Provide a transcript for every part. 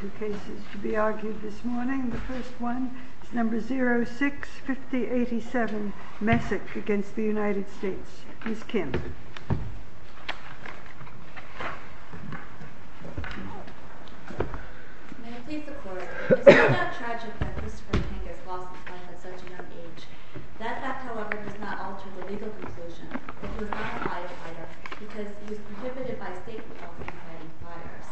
2 cases to be argued this morning. The first one is number 065087 Messick v. United States Miss Kim. May it please the court, it is no doubt tragic that Christopher Kangas lost his life at such a young age. That fact, however, does not alter the legal conclusion that he was not a firefighter because he was prohibited by state law from inciting fires.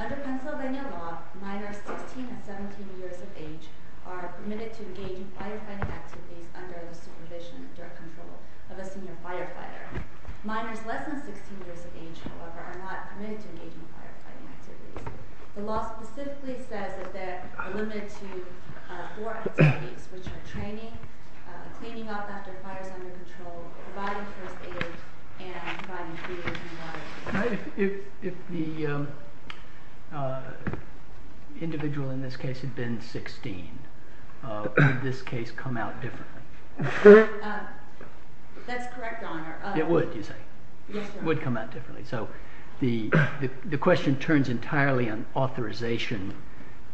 Under Pennsylvania law, minors 16 and 17 years of age are permitted to engage in firefighting activities under the supervision and direct control of a senior firefighter. Minors less than 16 years of age, however, are not permitted to engage in firefighting activities. The law specifically says that they are limited to four activities, which are training, cleaning up after a fire is under control, providing first aid, and providing food and water. If the individual in this case had been 16, would this case come out differently? That's correct, Your Honor. It would, you say? Yes, Your Honor. It would come out differently. So the question turns entirely on authorization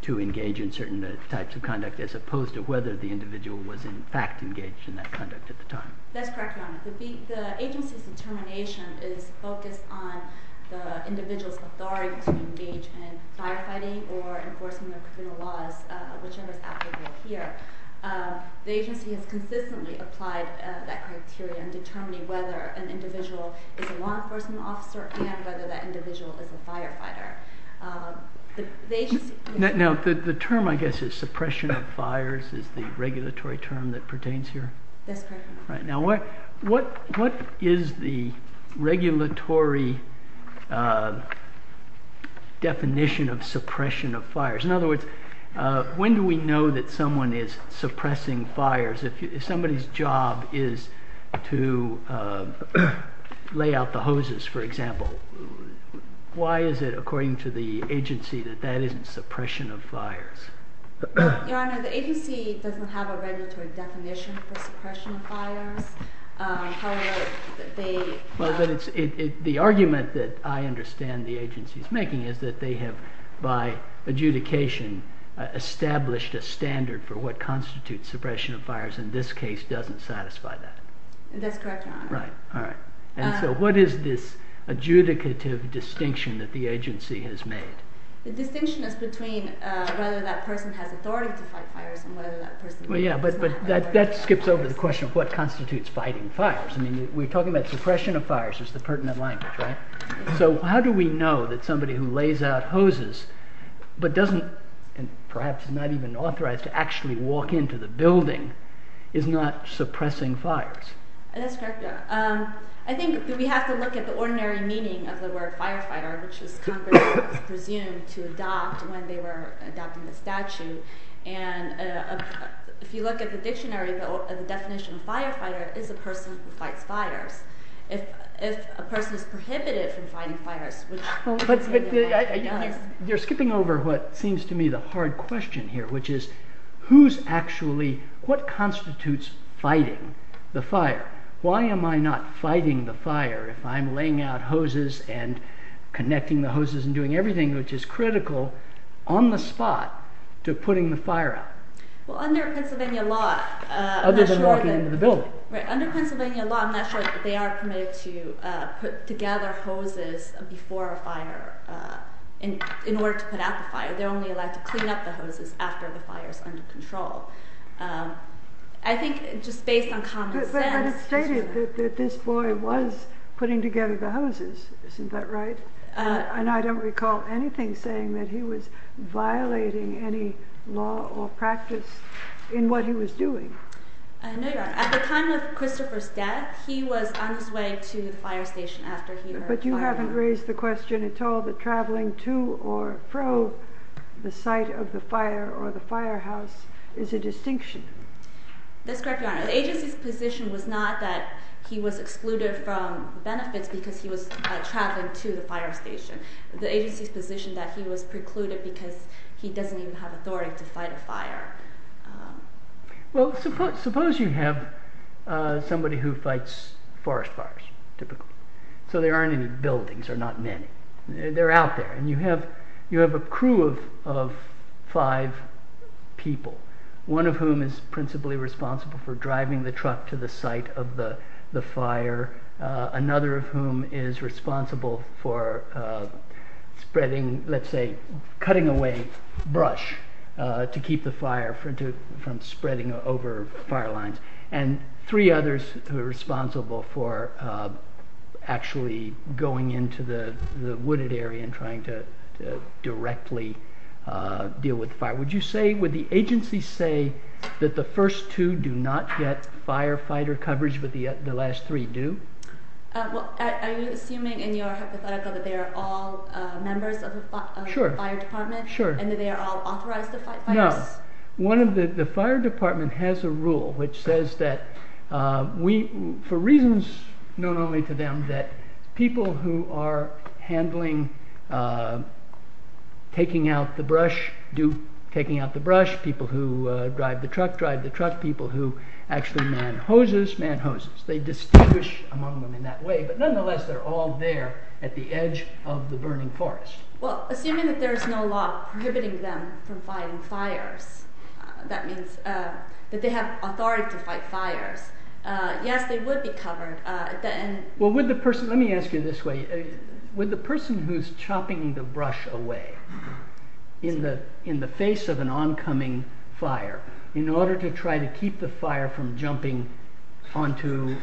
to engage in certain types of conduct as opposed to whether the individual was in fact engaged in that conduct at the time. That's correct, Your Honor. The agency's determination is focused on the individual's authority to engage in firefighting or enforcement of criminal laws, whichever is applicable here. The agency has consistently applied that criteria in determining whether an individual is a law enforcement officer and whether that individual is a firefighter. Now the term, I guess, is suppression of fires is the regulatory term that pertains here? That's correct, Your Honor. Now what is the regulatory definition of suppression of fires? In other words, when do we know that someone is suppressing fires? If somebody's job is to lay out the hoses, for example, why is it, according to the agency, that that isn't suppression of fires? Your Honor, the agency doesn't have a regulatory definition for suppression of fires. However, they... But the argument that I understand the agency's making is that they have, by adjudication, established a standard for what constitutes suppression of fires. In this case, it doesn't satisfy that. That's correct, Your Honor. Right. All right. And so what is this adjudicative distinction that the agency has made? The distinction is between whether that person has authority to fight fires and whether that person... Well, yeah, but that skips over the question of what constitutes fighting fires. I mean, we're talking about suppression of fires is the pertinent language, right? So how do we know that somebody who lays out hoses but doesn't, and perhaps is not even authorized to actually walk into the building, is not suppressing fires? That's correct, Your Honor. I think we have to look at the ordinary meaning of the word firefighter, which is Congress presumed to adopt when they were adopting the statute. And if you look at the dictionary, the definition of firefighter is a person who fights fires. If a person is prohibited from fighting fires... You're skipping over what seems to me the hard question here, which is what constitutes fighting the fire? Why am I not fighting the fire if I'm laying out hoses and connecting the hoses and doing everything which is critical on the spot to putting the fire out? Well, under Pennsylvania law... Other than walking into the building. Under Pennsylvania law, I'm not sure that they are permitted to put together hoses before a fire in order to put out the fire. They're only allowed to clean up the hoses after the fire is under control. I think just based on common sense... But it's stated that this boy was putting together the hoses, isn't that right? And I don't recall anything saying that he was violating any law or practice in what he was doing. No, Your Honor. At the time of Christopher's death, he was on his way to the fire station after he was fired. But you haven't raised the question at all that traveling to or fro the site of the fire or the firehouse is a distinction. That's correct, Your Honor. The agency's position was not that he was excluded from benefits because he was traveling to the fire station. The agency's position that he was precluded because he doesn't even have authority to fight a fire. Well, suppose you have somebody who fights forest fires, typically. So there aren't any buildings, or not many. They're out there. And you have a crew of five people. One of whom is principally responsible for driving the truck to the site of the fire. Another of whom is responsible for spreading, let's say, cutting away brush to keep the fire from spreading over fire lines. And three others who are responsible for actually going into the wooded area and trying to directly deal with fire. Would the agency say that the first two do not get firefighter coverage, but the last three do? Are you assuming in your hypothetical that they are all members of the fire department and that they are all authorized to fight fires? The fire department has a rule which says that, for reasons known only to them, that people who are handling taking out the brush, people who drive the truck drive the truck, people who actually man hoses man hoses. They distinguish among them in that way, but nonetheless they're all there at the edge of the burning forest. Well, assuming that there is no law prohibiting them from fighting fires, that means that they have authority to fight fires. Yes, they would be covered. Well, let me ask you this way. Would the person who's chopping the brush away in the face of an oncoming fire, in order to try to keep the fire from jumping onto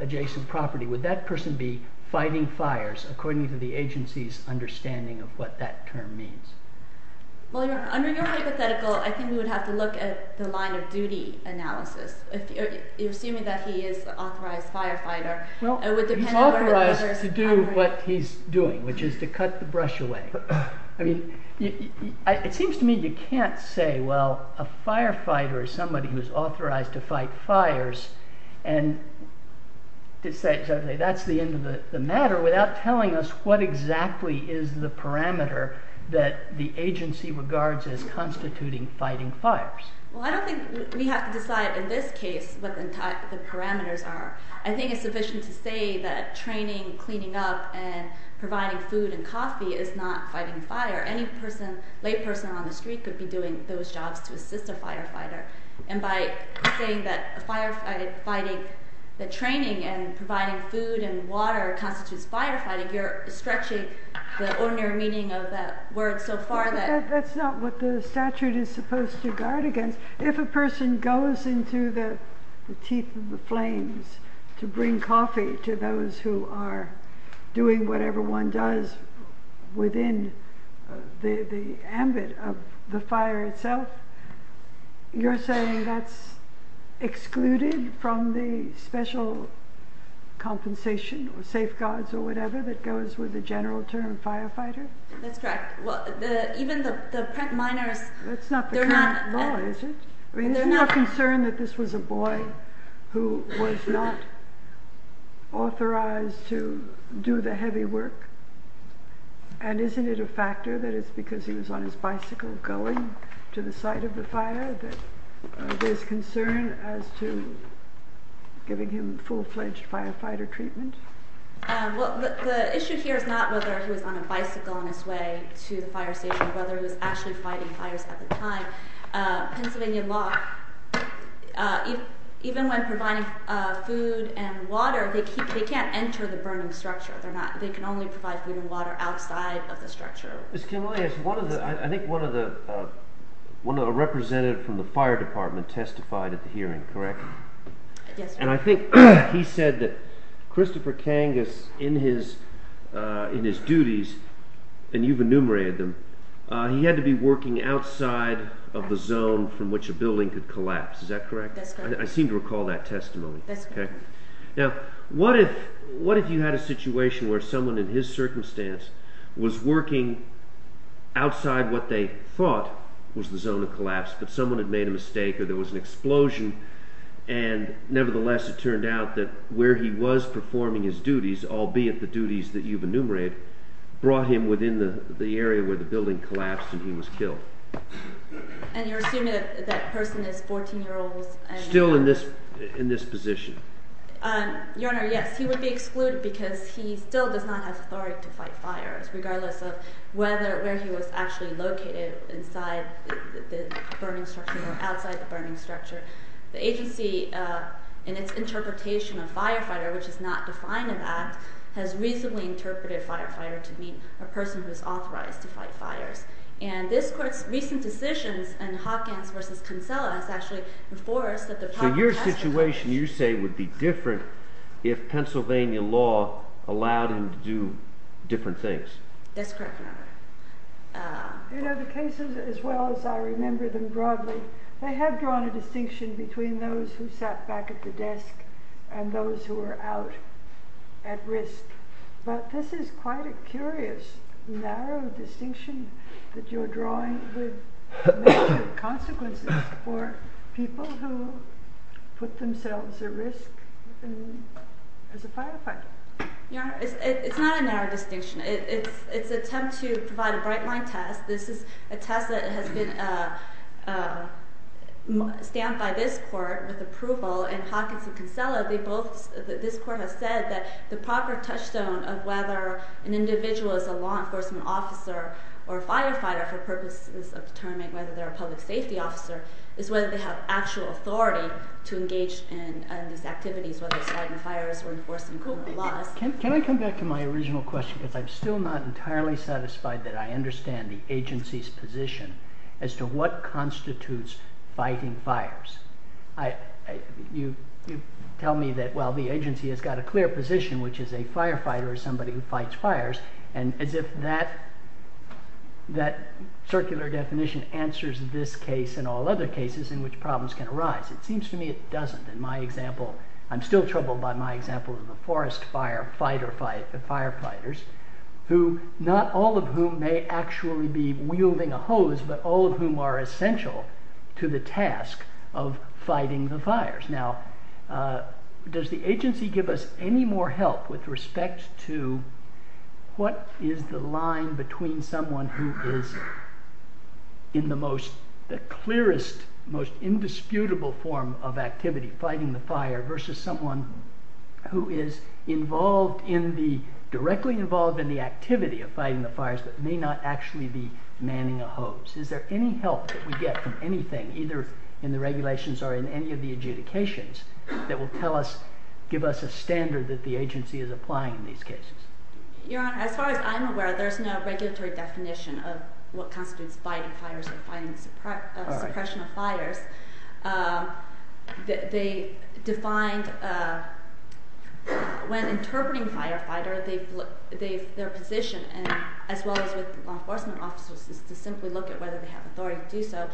adjacent property, would that person be fighting fires according to the agency's understanding of what that term means? Well, under your hypothetical, I think we would have to look at the line of duty analysis, assuming that he is an authorized firefighter. Well, he's authorized to do what he's doing, which is to cut the brush away. It seems to me you can't say, well, a firefighter is somebody who is authorized to fight fires, and that's the end of the matter, without telling us what exactly is the parameter that the agency regards as constituting fighting fires. Well, I don't think we have to decide in this case what the parameters are. I think it's sufficient to say that training, cleaning up, and providing food and coffee is not fighting fire. Any person, layperson on the street, could be doing those jobs to assist a firefighter. And by saying that training and providing food and water constitutes firefighting, you're stretching the ordinary meaning of that word so far. That's not what the statute is supposed to guard against. If a person goes into the teeth of the flames to bring coffee to those who are doing whatever one does within the ambit of the fire itself, you're saying that's excluded from the special compensation or safeguards or whatever that goes with the general term firefighter? That's correct. Even the print miners... That's not the current law, is it? I mean, isn't there a concern that this was a boy who was not authorized to do the heavy work? And isn't it a factor that it's because he was on his bicycle going to the site of the fire that there's concern as to giving him full-fledged firefighter treatment? Well, the issue here is not whether he was on a bicycle on his way to the fire station or whether he was actually fighting fires at the time. Pennsylvania law, even when providing food and water, they can't enter the Burnham structure. They can only provide food and water outside of the structure. I think one of the representatives from the fire department testified at the hearing, correct? And I think he said that Christopher Kangas, in his duties, and you've enumerated them, he had to be working outside of the zone from which a building could collapse. Is that correct? I seem to recall that testimony. Now, what if you had a situation where someone in his circumstance was working outside what they thought was the zone of collapse, but someone had made a mistake or there was an explosion, and nevertheless it turned out that where he was performing his duties, albeit the duties that you've enumerated, brought him within the area where the building collapsed and he was killed? And you're assuming that that person is 14-year-olds? Still in this position. Your Honor, yes. He would be excluded because he still does not have authority to fight fires, regardless of whether where he was actually located inside the Burnham structure or outside the Burnham structure. The agency, in its interpretation of firefighter, which is not defined in that, has reasonably interpreted firefighter to be a person who is authorized to fight fires. And this court's recent decisions in Hopkins v. Kinsella has actually enforced that the proper… So your situation, you say, would be different if Pennsylvania law allowed him to do different things? That's correct, Your Honor. You know, the cases, as well as I remember them broadly, they have drawn a distinction between those who sat back at the desk and those who were out at risk. But this is quite a curious, narrow distinction that you're drawing with negative consequences for people who put themselves at risk as a firefighter. Your Honor, it's not a narrow distinction. It's an attempt to provide a bright-line test. This is a test that has been stamped by this court with approval, and Hopkins v. Kinsella, this court has said that the proper touchstone of whether an individual is a law enforcement officer or a firefighter for purposes of determining whether they're a public safety officer is whether they have actual authority to engage in these activities, whether it's fighting fires or enforcing law. Can I come back to my original question? Because I'm still not entirely satisfied that I understand the agency's position as to what constitutes fighting fires. You tell me that, well, the agency has got a clear position, which is a firefighter is somebody who fights fires, and as if that circular definition answers this case and all other cases in which problems can arise. It seems to me it doesn't. I'm still troubled by my example of the forest firefighters, not all of whom may actually be wielding a hose, but all of whom are essential to the task of fighting the fires. Now, does the agency give us any more help with respect to what is the line between someone who is in the clearest, most indisputable form of activity, fighting the fire, versus someone who is directly involved in the activity of fighting the fires but may not actually be manning a hose? Is there any help that we get from anything, either in the regulations or in any of the adjudications, that will give us a standard that the agency is applying in these cases? Your Honor, as far as I'm aware, there's no regulatory definition of what constitutes fighting fires or suppression of fires. When interpreting firefighter, their position, as well as with law enforcement officers, is to simply look at whether they have authority to do so.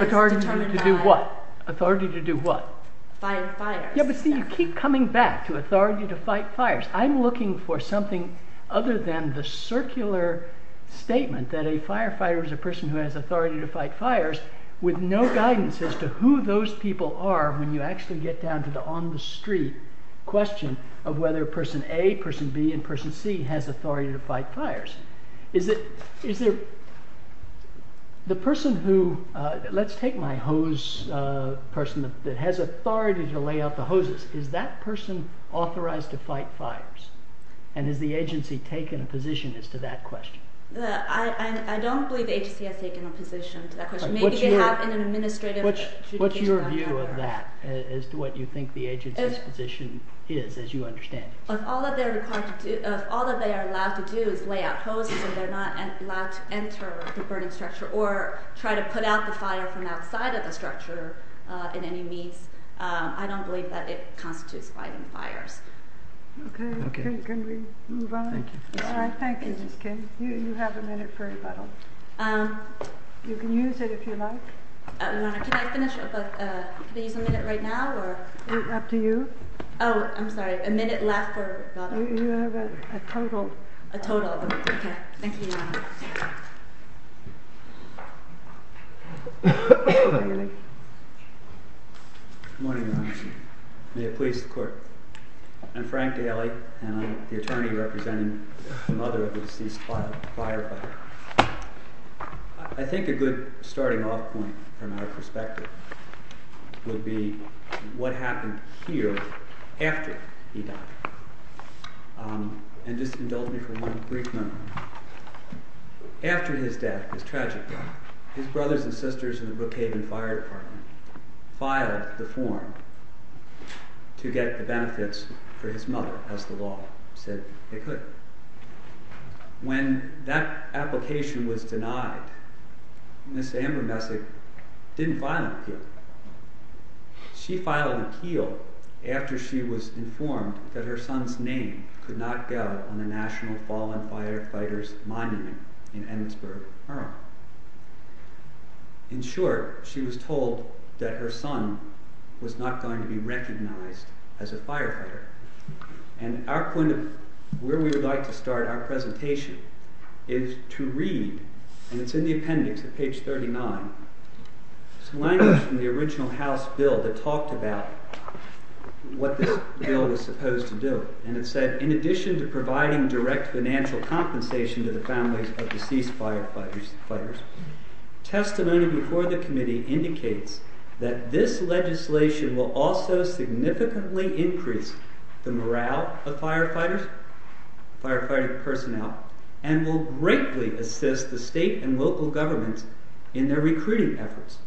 Authority to do what? Authority to do what? Fight fires. Yeah, but see, you keep coming back to authority to fight fires. I'm looking for something other than the circular statement that a firefighter is a person who has authority to fight fires with no guidance as to who those people are when you actually get down to the on-the-street question of whether person A, person B, and person C has authority to fight fires. Let's take my hose person that has authority to lay out the hoses. Is that person authorized to fight fires, and has the agency taken a position as to that question? I don't believe the agency has taken a position to that question. Maybe they have an administrative adjudication on fire. What's your view of that, as to what you think the agency's position is, as you understand it? If all that they are allowed to do is lay out hoses, and they're not allowed to enter the burning structure, or try to put out the fire from outside of the structure in any means, I don't believe that it constitutes fighting fires. Okay, can we move on? Thank you. All right, thank you, Ms. Kim. You have a minute for rebuttal. You can use it if you like. Can I finish up? Can I use a minute right now? It's up to you. Oh, I'm sorry. A minute left for rebuttal. You have a total. A total, okay. Thank you, Your Honor. Good morning, Your Honor. May it please the Court. I'm Frank Daly, and I'm the attorney representing the mother of the deceased firefighter. I think a good starting off point, from our perspective, would be what happened here after he died. And just indulge me for one brief moment. After his death, his tragic death, his brothers and sisters in the Brookhaven Fire Department filed the form to get the benefits for his mother, as the law said they could. When that application was denied, Ms. Amber Messick didn't file an appeal. She filed an appeal after she was informed that her son's name could not go on the National Fallen Firefighters Monument in Emmitsburg, Ireland. In short, she was told that her son was not going to be recognized as a firefighter. And where we would like to start our presentation is to read, and it's in the appendix at page 39, some language from the original House bill that talked about what this bill was supposed to do. And it said, in addition to providing direct financial compensation to the families of deceased firefighters, testimony before the committee indicates that this legislation will also significantly increase the morale of firefighters, firefighting personnel, and will greatly assist the state and local governments in their recruiting efforts.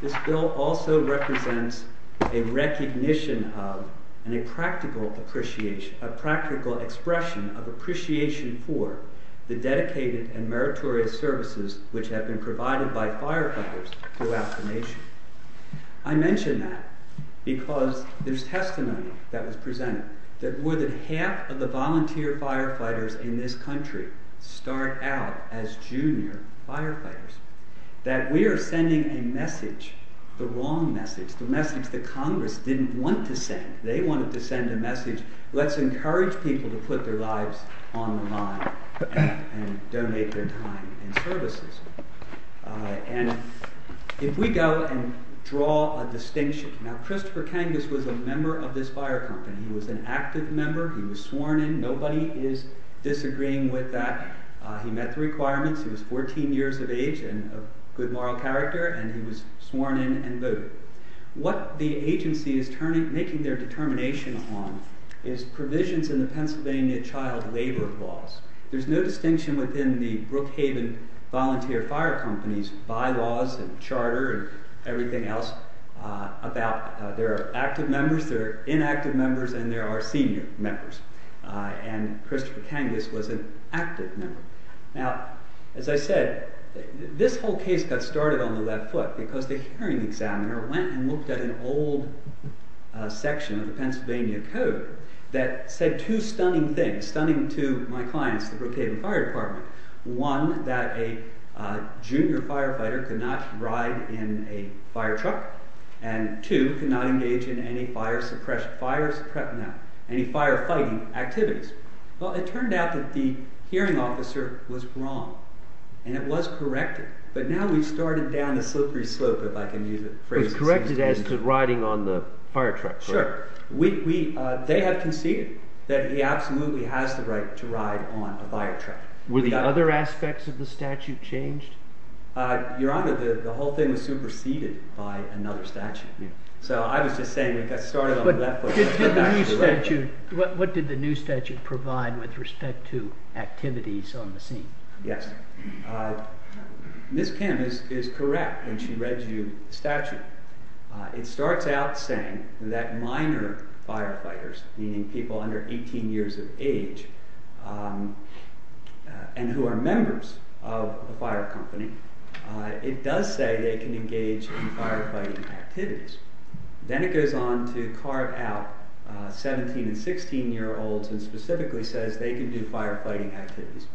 This bill also represents a recognition of and a practical expression of appreciation for the dedicated and meritorious services which have been provided by firefighters throughout the nation. I mention that because there's testimony that was presented that more than half of the volunteer firefighters in this country start out as junior firefighters. That we are sending a message, the wrong message, the message that Congress didn't want to send. They wanted to send a message, let's encourage people to put their lives on the line and donate their time and services. And if we go and draw a distinction, now Christopher Kangas was a member of this fire company, he was an active member, he was sworn in, nobody is disagreeing with that. He met the requirements, he was 14 years of age and of good moral character, and he was sworn in and voted. What the agency is making their determination on is provisions in the Pennsylvania child labor laws. There's no distinction within the Brookhaven Volunteer Fire Company's bylaws and charter and everything else about there are active members, there are inactive members, and there are senior members. And Christopher Kangas was an active member. Now, as I said, this whole case got started on the left foot because the hearing examiner went and looked at an old section of the Pennsylvania code that said two stunning things, stunning to my clients, the Brookhaven Fire Department. One, that a junior firefighter could not ride in a fire truck, and two, could not engage in any fire suppression, fire suppression, no, any fire fighting activities. Well, it turned out that the hearing officer was wrong, and it was corrected, but now we've started down the slippery slope, if I can use the phrase. It was corrected as to riding on the fire truck, correct? Sure. They have conceded that he absolutely has the right to ride on a fire truck. Were the other aspects of the statute changed? Your Honor, the whole thing was superseded by another statute, so I was just saying it got started on the left foot. What did the new statute provide with respect to activities on the scene? Yes. Ms. Kim is correct when she reads you the statute. It starts out saying that minor firefighters, meaning people under 18 years of age and who are members of the fire company, it does say they can engage in firefighting activities. Then it goes on to carve out 17 and 16 year olds and specifically says they can do firefighting activities.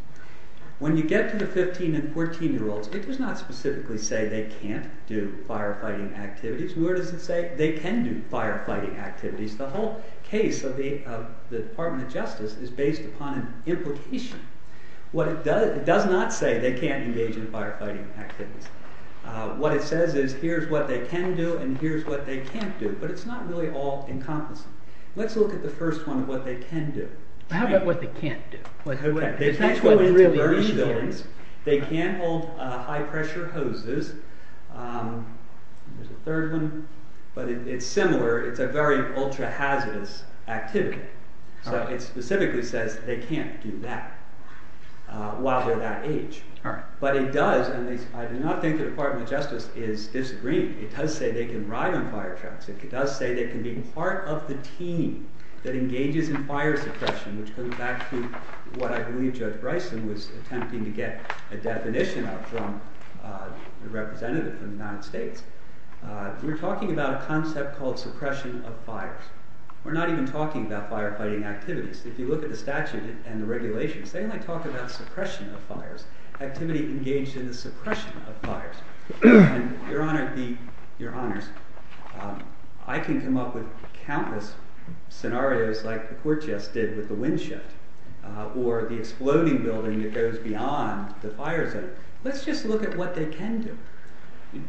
When you get to the 15 and 14 year olds, it does not specifically say they can't do firefighting activities. Where does it say they can do firefighting activities? The whole case of the Department of Justice is based upon an implication. It does not say they can't engage in firefighting activities. What it says is here's what they can do and here's what they can't do, but it's not really all encompassing. Let's look at the first one, what they can do. How about what they can't do? They can't go into burning buildings. They can't hold high pressure hoses. There's a third one, but it's similar. It's a very ultra-hazardous activity. It specifically says they can't do that while they're that age. But it does, and I do not think the Department of Justice is disagreeing. It does say they can ride on fire trucks. It does say they can be part of the team that engages in fire suppression, which goes back to what I believe Judge Bryson was attempting to get a definition of from the representative from the United States. We're talking about a concept called suppression of fires. We're not even talking about firefighting activities. If you look at the statute and the regulations, they only talk about suppression of fires, activity engaged in the suppression of fires. Your Honors, I can come up with countless scenarios like the court just did with the windshield or the exploding building that goes beyond the fire zone. Let's just look at what they can do.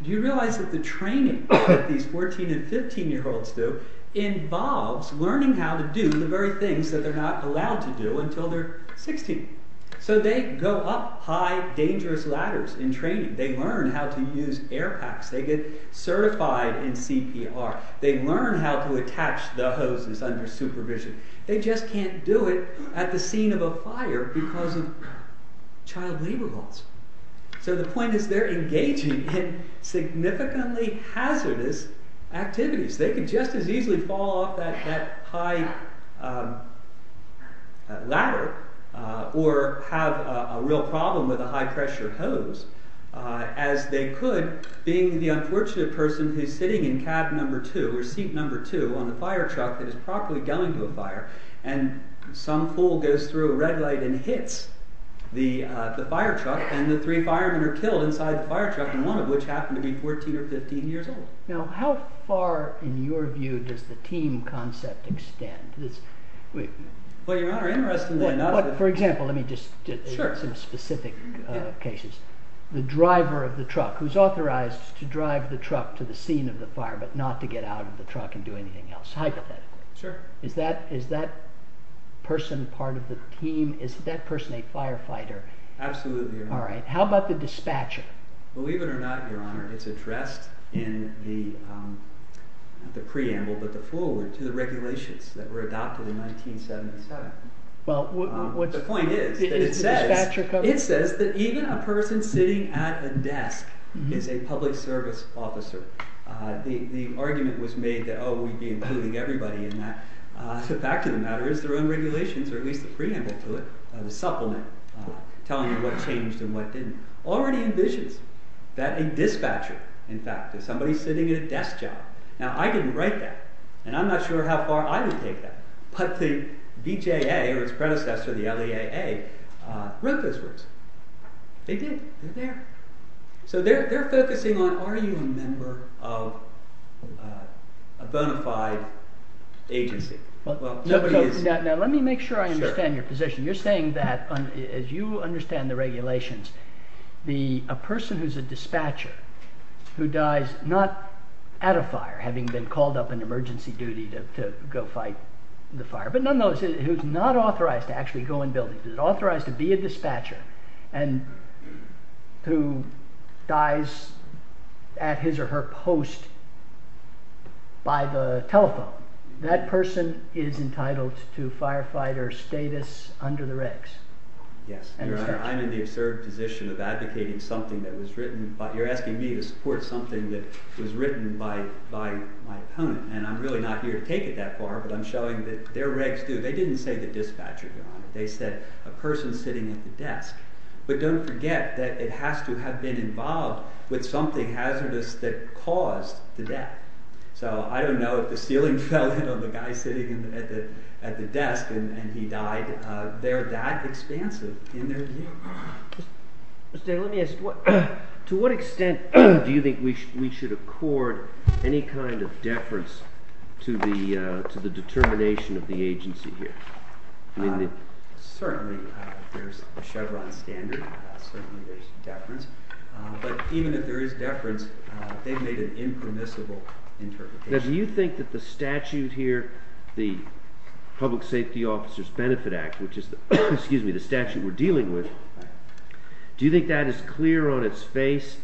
Do you realize that the training that these 14- and 15-year-olds do involves learning how to do the very things that they're not allowed to do until they're 16? So they go up high, dangerous ladders in training. They learn how to use air packs. They get certified in CPR. They learn how to attach the hoses under supervision. They just can't do it at the scene of a fire because of child labor laws. So the point is they're engaging in significantly hazardous activities. They could just as easily fall off that high ladder or have a real problem with a high-pressure hose as they could being the unfortunate person who's sitting in cab number two or seat number two on the fire truck that is properly going to a fire. And some fool goes through a red light and hits the fire truck, and the three firemen are killed inside the fire truck, and one of which happened to be 14 or 15 years old. Now how far, in your view, does the team concept extend? Well, Your Honor, interestingly enough— Well, for example, let me just— Sure. Some specific cases. The driver of the truck who's authorized to drive the truck to the scene of the fire but not to get out of the truck and do anything else, hypothetically. Sure. Is that person part of the team? Is that person a firefighter? Absolutely, Your Honor. All right. How about the dispatcher? Believe it or not, Your Honor, it's addressed in the—not the preamble, but the forward to the regulations that were adopted in 1977. Well, what— But the point is that it says— The dispatcher coverage? It says that even a person sitting at a desk is a public service officer. The argument was made that, oh, we'd be including everybody in that. The fact of the matter is their own regulations, or at least the preamble to it, the supplement, telling you what changed and what didn't, already envisions that a dispatcher, in fact, is somebody sitting at a desk job. Now, I didn't write that, and I'm not sure how far I would take that, but the BJA or its predecessor, the LEAA, wrote those words. They did. They're there. So they're focusing on are you a member of a bona fide agency. Well, nobody is. Now, let me make sure I understand your position. Sure. So you're saying that, as you understand the regulations, a person who's a dispatcher who dies not at a fire, having been called up on emergency duty to go fight the fire, but nonetheless who's not authorized to actually go in buildings, authorized to be a dispatcher, and who dies at his or her post by the telephone, that person is entitled to firefighter status under the regs? Yes. Your Honor, I'm in the absurd position of advocating something that was written. You're asking me to support something that was written by my opponent, and I'm really not here to take it that far, but I'm showing that their regs do. They didn't say the dispatcher, Your Honor. They said a person sitting at the desk. But don't forget that it has to have been involved with something hazardous that caused the death. So I don't know if the ceiling fell on the guy sitting at the desk and he died. They're that expansive in their view. Mr. Day, let me ask you, to what extent do you think we should accord any kind of deference to the determination of the agency here? Certainly there's a Chevron standard. Certainly there's deference. But even if there is deference, they've made an impermissible interpretation. Now, do you think that the statute here, the Public Safety Officers Benefit Act, which is the statute we're dealing with, do you think that is clear on its face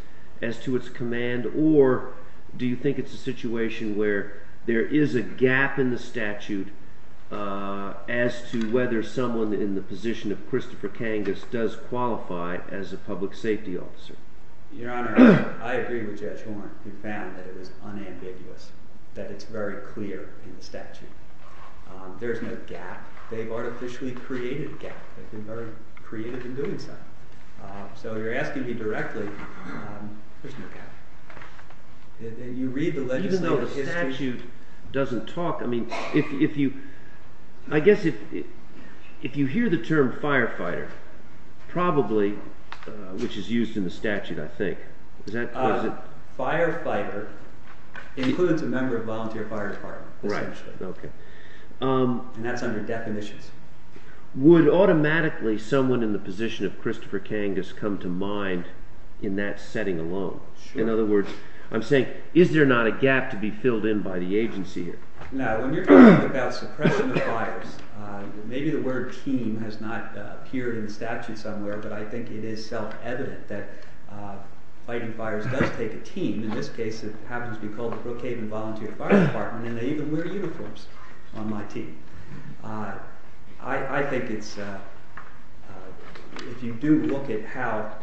as to its command, or do you think it's a situation where there is a gap in the statute as to whether someone in the position of Christopher Kangas does qualify as a public safety officer? Your Honor, I agree with Judge Horne. We found that it was unambiguous, that it's very clear in the statute. There's no gap. They've artificially created a gap. They've been very creative in doing so. So you're asking me directly, there's no gap. You read the legislative history... Even though the statute doesn't talk, I mean, if you... I guess if you hear the term firefighter, probably, which is used in the statute, I think. Firefighter includes a member of volunteer fire department, essentially. Right, okay. And that's under definitions. Would automatically someone in the position of Christopher Kangas come to mind in that setting alone? In other words, I'm saying, is there not a gap to be filled in by the agency here? Now, when you're talking about suppression of fires, maybe the word team has not appeared in the statute somewhere, but I think it is self-evident that fighting fires does take a team. In this case, it happens to be called the Brookhaven Volunteer Fire Department, and they even wear uniforms on my team. I think it's... If you do look at how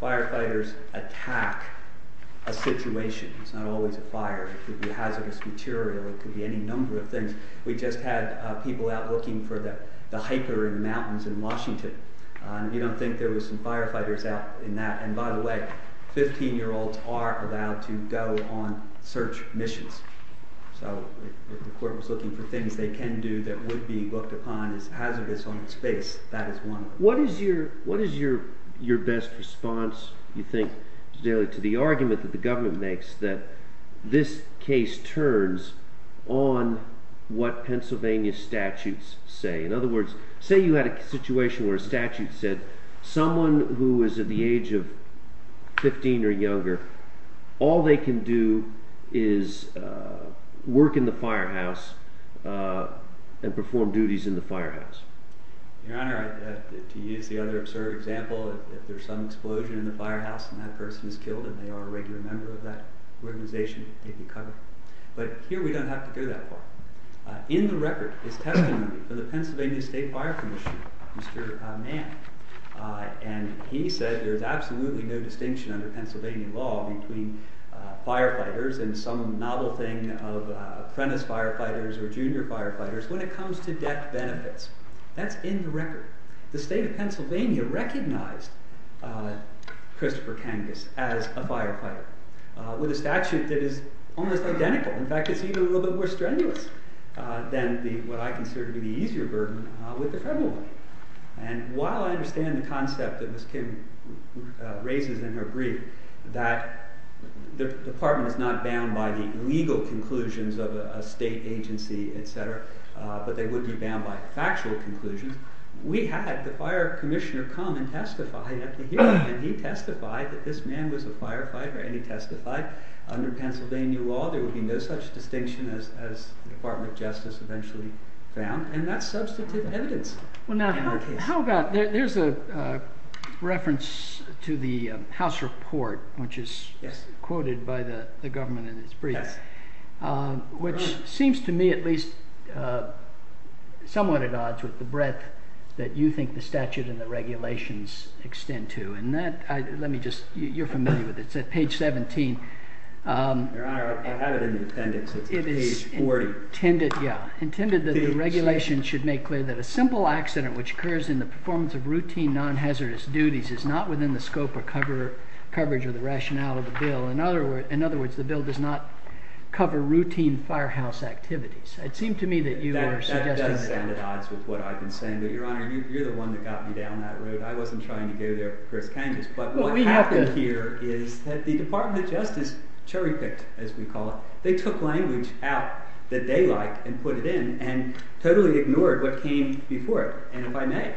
firefighters attack a situation, it's not always a fire. It could be hazardous material, it could be any number of things. We just had people out looking for the hiker in mountains in Washington. You don't think there were some firefighters out in that. And by the way, 15-year-olds are allowed to go on search missions. So if the court was looking for things they can do that would be looked upon as hazardous on its face, that is one. What is your best response, you think, to the argument that the government makes that this case turns on what Pennsylvania statutes say? In other words, say you had a situation where a statute said someone who is at the age of 15 or younger, all they can do is work in the firehouse and perform duties in the firehouse. Your Honor, to use the other absurd example, if there's some explosion in the firehouse and that person is killed and they are a regular member of that organization, they'd be covered. But here we don't have to go that far. In the record, it's testimony from the Pennsylvania State Fire Commission, Mr. Mann. And he said there's absolutely no distinction under Pennsylvania law between firefighters and some novel thing of apprentice firefighters or junior firefighters when it comes to debt benefits. That's in the record. The state of Pennsylvania recognized Christopher Kangas as a firefighter with a statute that is almost identical. In fact, it's even a little bit more strenuous than what I consider to be the easier burden with the federal money. And while I understand the concept that Ms. Kim raises in her brief that the department is not bound by the legal conclusions of a state agency, etc., but they would be bound by factual conclusions, we had the fire commissioner come and testify at the hearing. And he testified that this man was a firefighter, and he testified under Pennsylvania law there would be no such distinction as the Department of Justice eventually found. And that's substantive evidence in the case. There's a reference to the House report, which is quoted by the government in its brief, which seems to me at least somewhat at odds with the breadth that you think the statute and the regulations extend to. And that, let me just, you're familiar with it. It's at page 17. Your Honor, I have it in the appendix. It's page 40. Intended that the regulations should make clear that a simple accident which occurs in the performance of routine non-hazardous duties is not within the scope or coverage of the rationale of the bill. In other words, the bill does not cover routine firehouse activities. It seemed to me that you were suggesting that. That does stand at odds with what I've been saying. But, Your Honor, you're the one that got me down that road. I wasn't trying to go there for Chris Kangas. But what happened here is that the Department of Justice cherry-picked, as we call it. They took language out that they like and put it in and totally ignored what came before it. And if I may,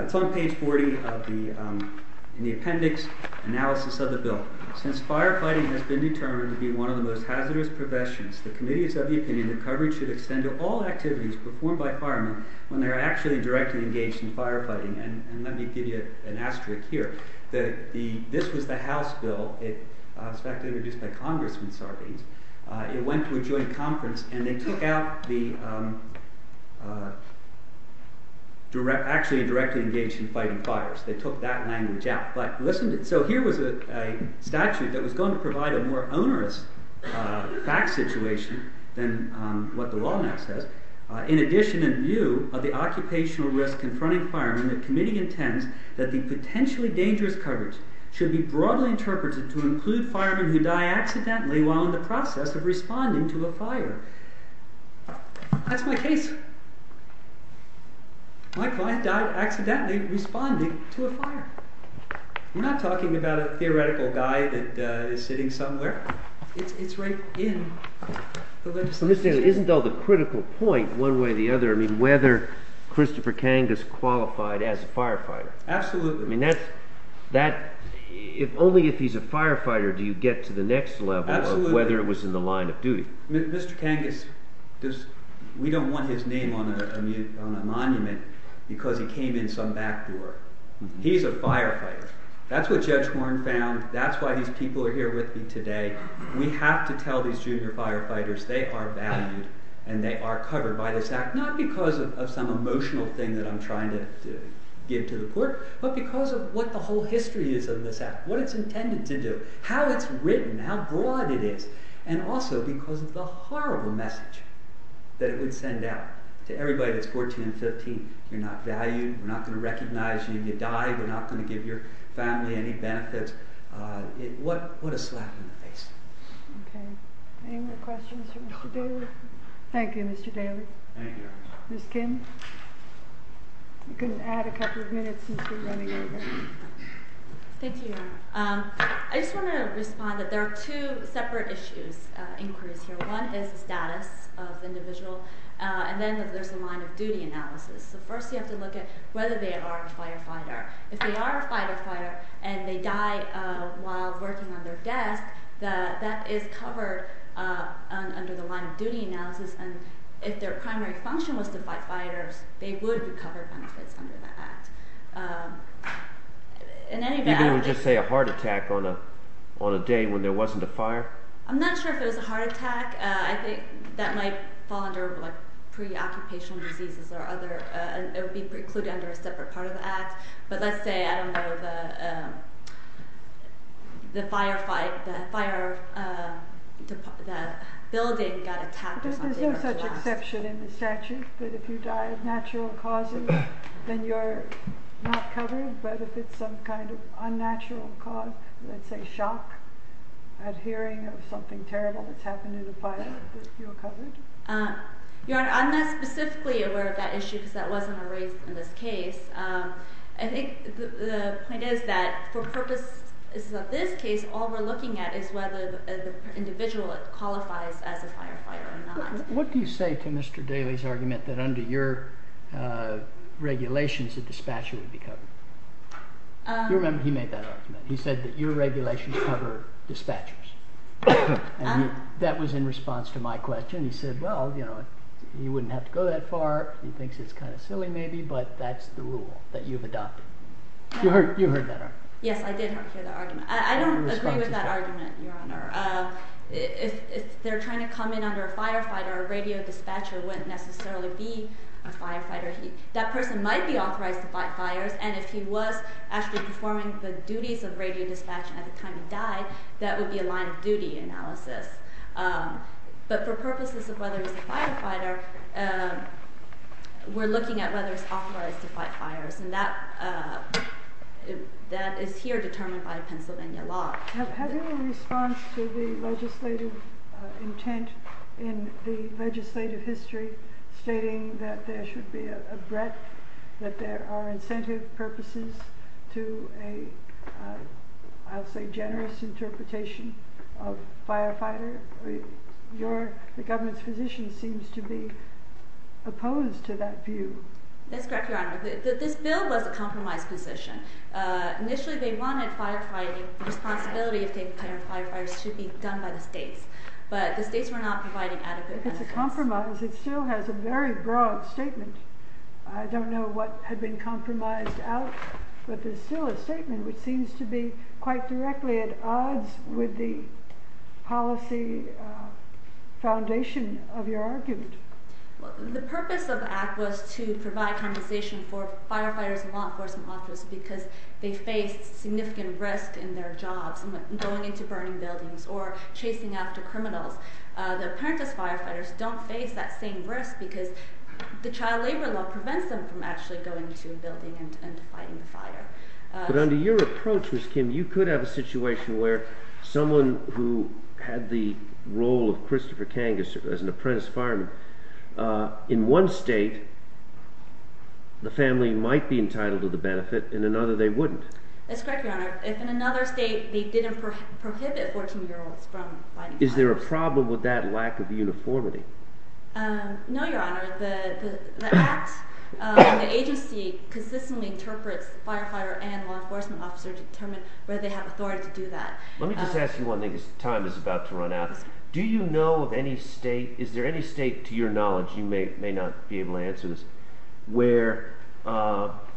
it's on page 40 in the appendix, analysis of the bill. Since firefighting has been determined to be one of the most hazardous professions, the committee is of the opinion that coverage should extend to all activities performed by firemen when they are actually directly engaged in firefighting. And let me give you an asterisk here. This was the House bill. It was actually introduced by Congressman Sarbanes. It went to a joint conference. And they took out the actually directly engaged in fighting fires. They took that language out. So here was a statute that was going to provide a more onerous fact situation than what the law now says. In addition, in view of the occupational risk confronting firemen, the committee intends that the potentially dangerous coverage should be broadly interpreted to include firemen who die accidentally while in the process of responding to a fire. That's my case. My client died accidentally responding to a fire. We're not talking about a theoretical guy that is sitting somewhere. It's right in the legislation. Isn't, though, the critical point, one way or the other, whether Christopher Kangas qualified as a firefighter? Absolutely. Only if he's a firefighter do you get to the next level of whether it was in the line of duty. Mr. Kangas, we don't want his name on a monument because he came in some back door. He's a firefighter. That's what Judge Warren found. That's why these people are here with me today. We have to tell these junior firefighters they are valued and they are covered by this act, not because of some emotional thing that I'm trying to give to the court, but because of what the whole history is of this act, what it's intended to do, how it's written, how broad it is, and also because of the horrible message that it would send out to everybody that's 14 and 15. You're not valued. We're not going to recognize you if you die. We're not going to give your family any benefits. What a slap in the face. Okay. Any more questions for Mr. Daly? No. Thank you, Mr. Daly. Thank you. Ms. Kim? You can add a couple of minutes since you're running over. Thank you. I just want to respond that there are two separate issues, inquiries here. One is the status of the individual, and then there's a line of duty analysis. So first you have to look at whether they are a firefighter. If they are a firefighter and they die while working on their desk, that is covered under the line of duty analysis, and if their primary function was to fight fighters, they would be covered benefits under that act. You mean they would just say a heart attack on a day when there wasn't a fire? I'm not sure if it was a heart attack. I think that might fall under pre-occupational diseases or other. It would be precluded under a separate part of the act. But let's say, I don't know, the firefighter, that building got attacked. There's no such exception in the statute that if you die of natural causes, then you're not covered, but if it's some kind of unnatural cause, let's say shock at hearing of something terrible that's happened in a fire, you're covered. Your Honor, I'm not specifically aware of that issue because that wasn't raised in this case. I think the point is that for purposes of this case, all we're looking at is whether the individual qualifies as a firefighter or not. What do you say to Mr. Daly's argument that under your regulations, a dispatcher would be covered? You remember he made that argument. He said that your regulations cover dispatchers. That was in response to my question. He said, well, you wouldn't have to go that far. He thinks it's kind of silly maybe, but that's the rule that you've adopted. You heard that argument. Yes, I did hear that argument. I don't agree with that argument, Your Honor. If they're trying to come in under a firefighter, a radio dispatcher wouldn't necessarily be a firefighter. That person might be authorized to fight fires, and if he was actually performing the duties of radio dispatch at the time he died, that would be a line-of-duty analysis. But for purposes of whether he's a firefighter, we're looking at whether he's authorized to fight fires, and that is here determined by Pennsylvania law. Have you had any response to the legislative intent in the legislative history stating that there should be a breadth, that there are incentive purposes to a, I'll say, generous interpretation of firefighter? The government's position seems to be opposed to that view. That's correct, Your Honor. This bill was a compromise position. Initially, they wanted firefighting responsibility if they declared firefighters should be done by the states, but the states were not providing adequate compensation. If it's a compromise, it still has a very broad statement. I don't know what had been compromised out, but there's still a statement which seems to be quite directly at odds with the policy foundation of your argument. The purpose of the act was to provide compensation for firefighters and law enforcement officers because they faced significant risk in their jobs going into burning buildings or chasing after criminals. The apprentice firefighters don't face that same risk because the child labor law prevents them from actually going into a building and fighting the fire. But under your approach, Ms. Kim, you could have a situation where someone who had the role of Christopher Kangas as an apprentice fireman, in one state the family might be entitled to the benefit, in another they wouldn't. That's correct, Your Honor. If in another state they didn't prohibit 14-year-olds from fighting fire. Is there a problem with that lack of uniformity? No, Your Honor. The act, the agency consistently interprets the firefighter and law enforcement officer to determine whether they have authority to do that. Let me just ask you one thing as time is about to run out. Do you know of any state, is there any state to your knowledge, you may not be able to answer this, where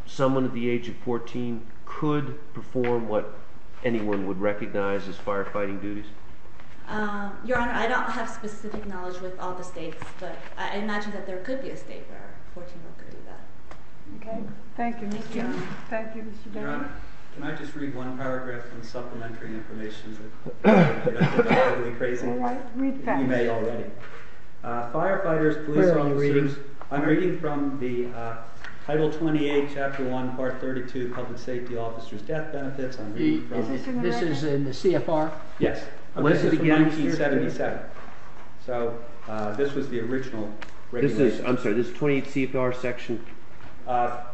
someone at the age of 14 could perform what anyone would recognize as firefighting duties? Your Honor, I don't have specific knowledge with all the states, but I imagine that there could be a state where a 14-year-old could do that. Okay. Thank you, Mr. Jones. Thank you, Mr. Jones. Your Honor, can I just read one paragraph and supplementary information? You may already. Firefighters, police officers. I'm reading from the Title 28, Chapter 1, Part 32, Public Safety Officers' Death Benefits. This is in the CFR? Yes. This is from 1977. So this was the original regulation. I'm sorry, this is the 28th CFR section?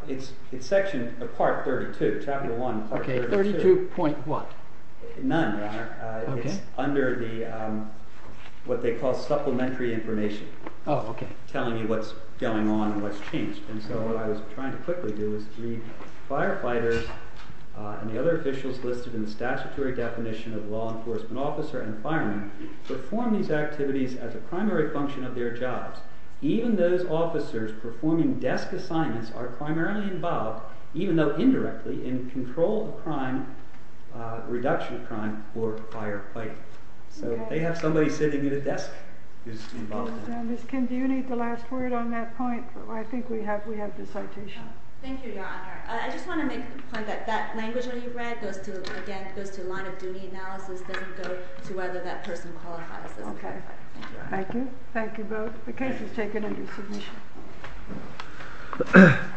It's Section Part 32, Chapter 1, Part 32. Okay, 32.1. None, Your Honor. It's under what they call supplementary information, telling you what's going on and what's changed. So what I was trying to quickly do is read, Firefighters and the other officials listed in the statutory definition of law enforcement officer and fireman perform these activities as a primary function of their jobs. Even those officers performing desk assignments are primarily involved, even though indirectly, in control of crime, reduction of crime for firefighting. So they have somebody sitting at a desk who's involved. Ms. Kim, do you need the last word on that point? I think we have the citation. Thank you, Your Honor. I just want to make the point that that language that you read goes to a line of duty analysis, doesn't go to whether that person qualifies as a firefighter. Thank you. Thank you both. The case is taken under submission. Thank you.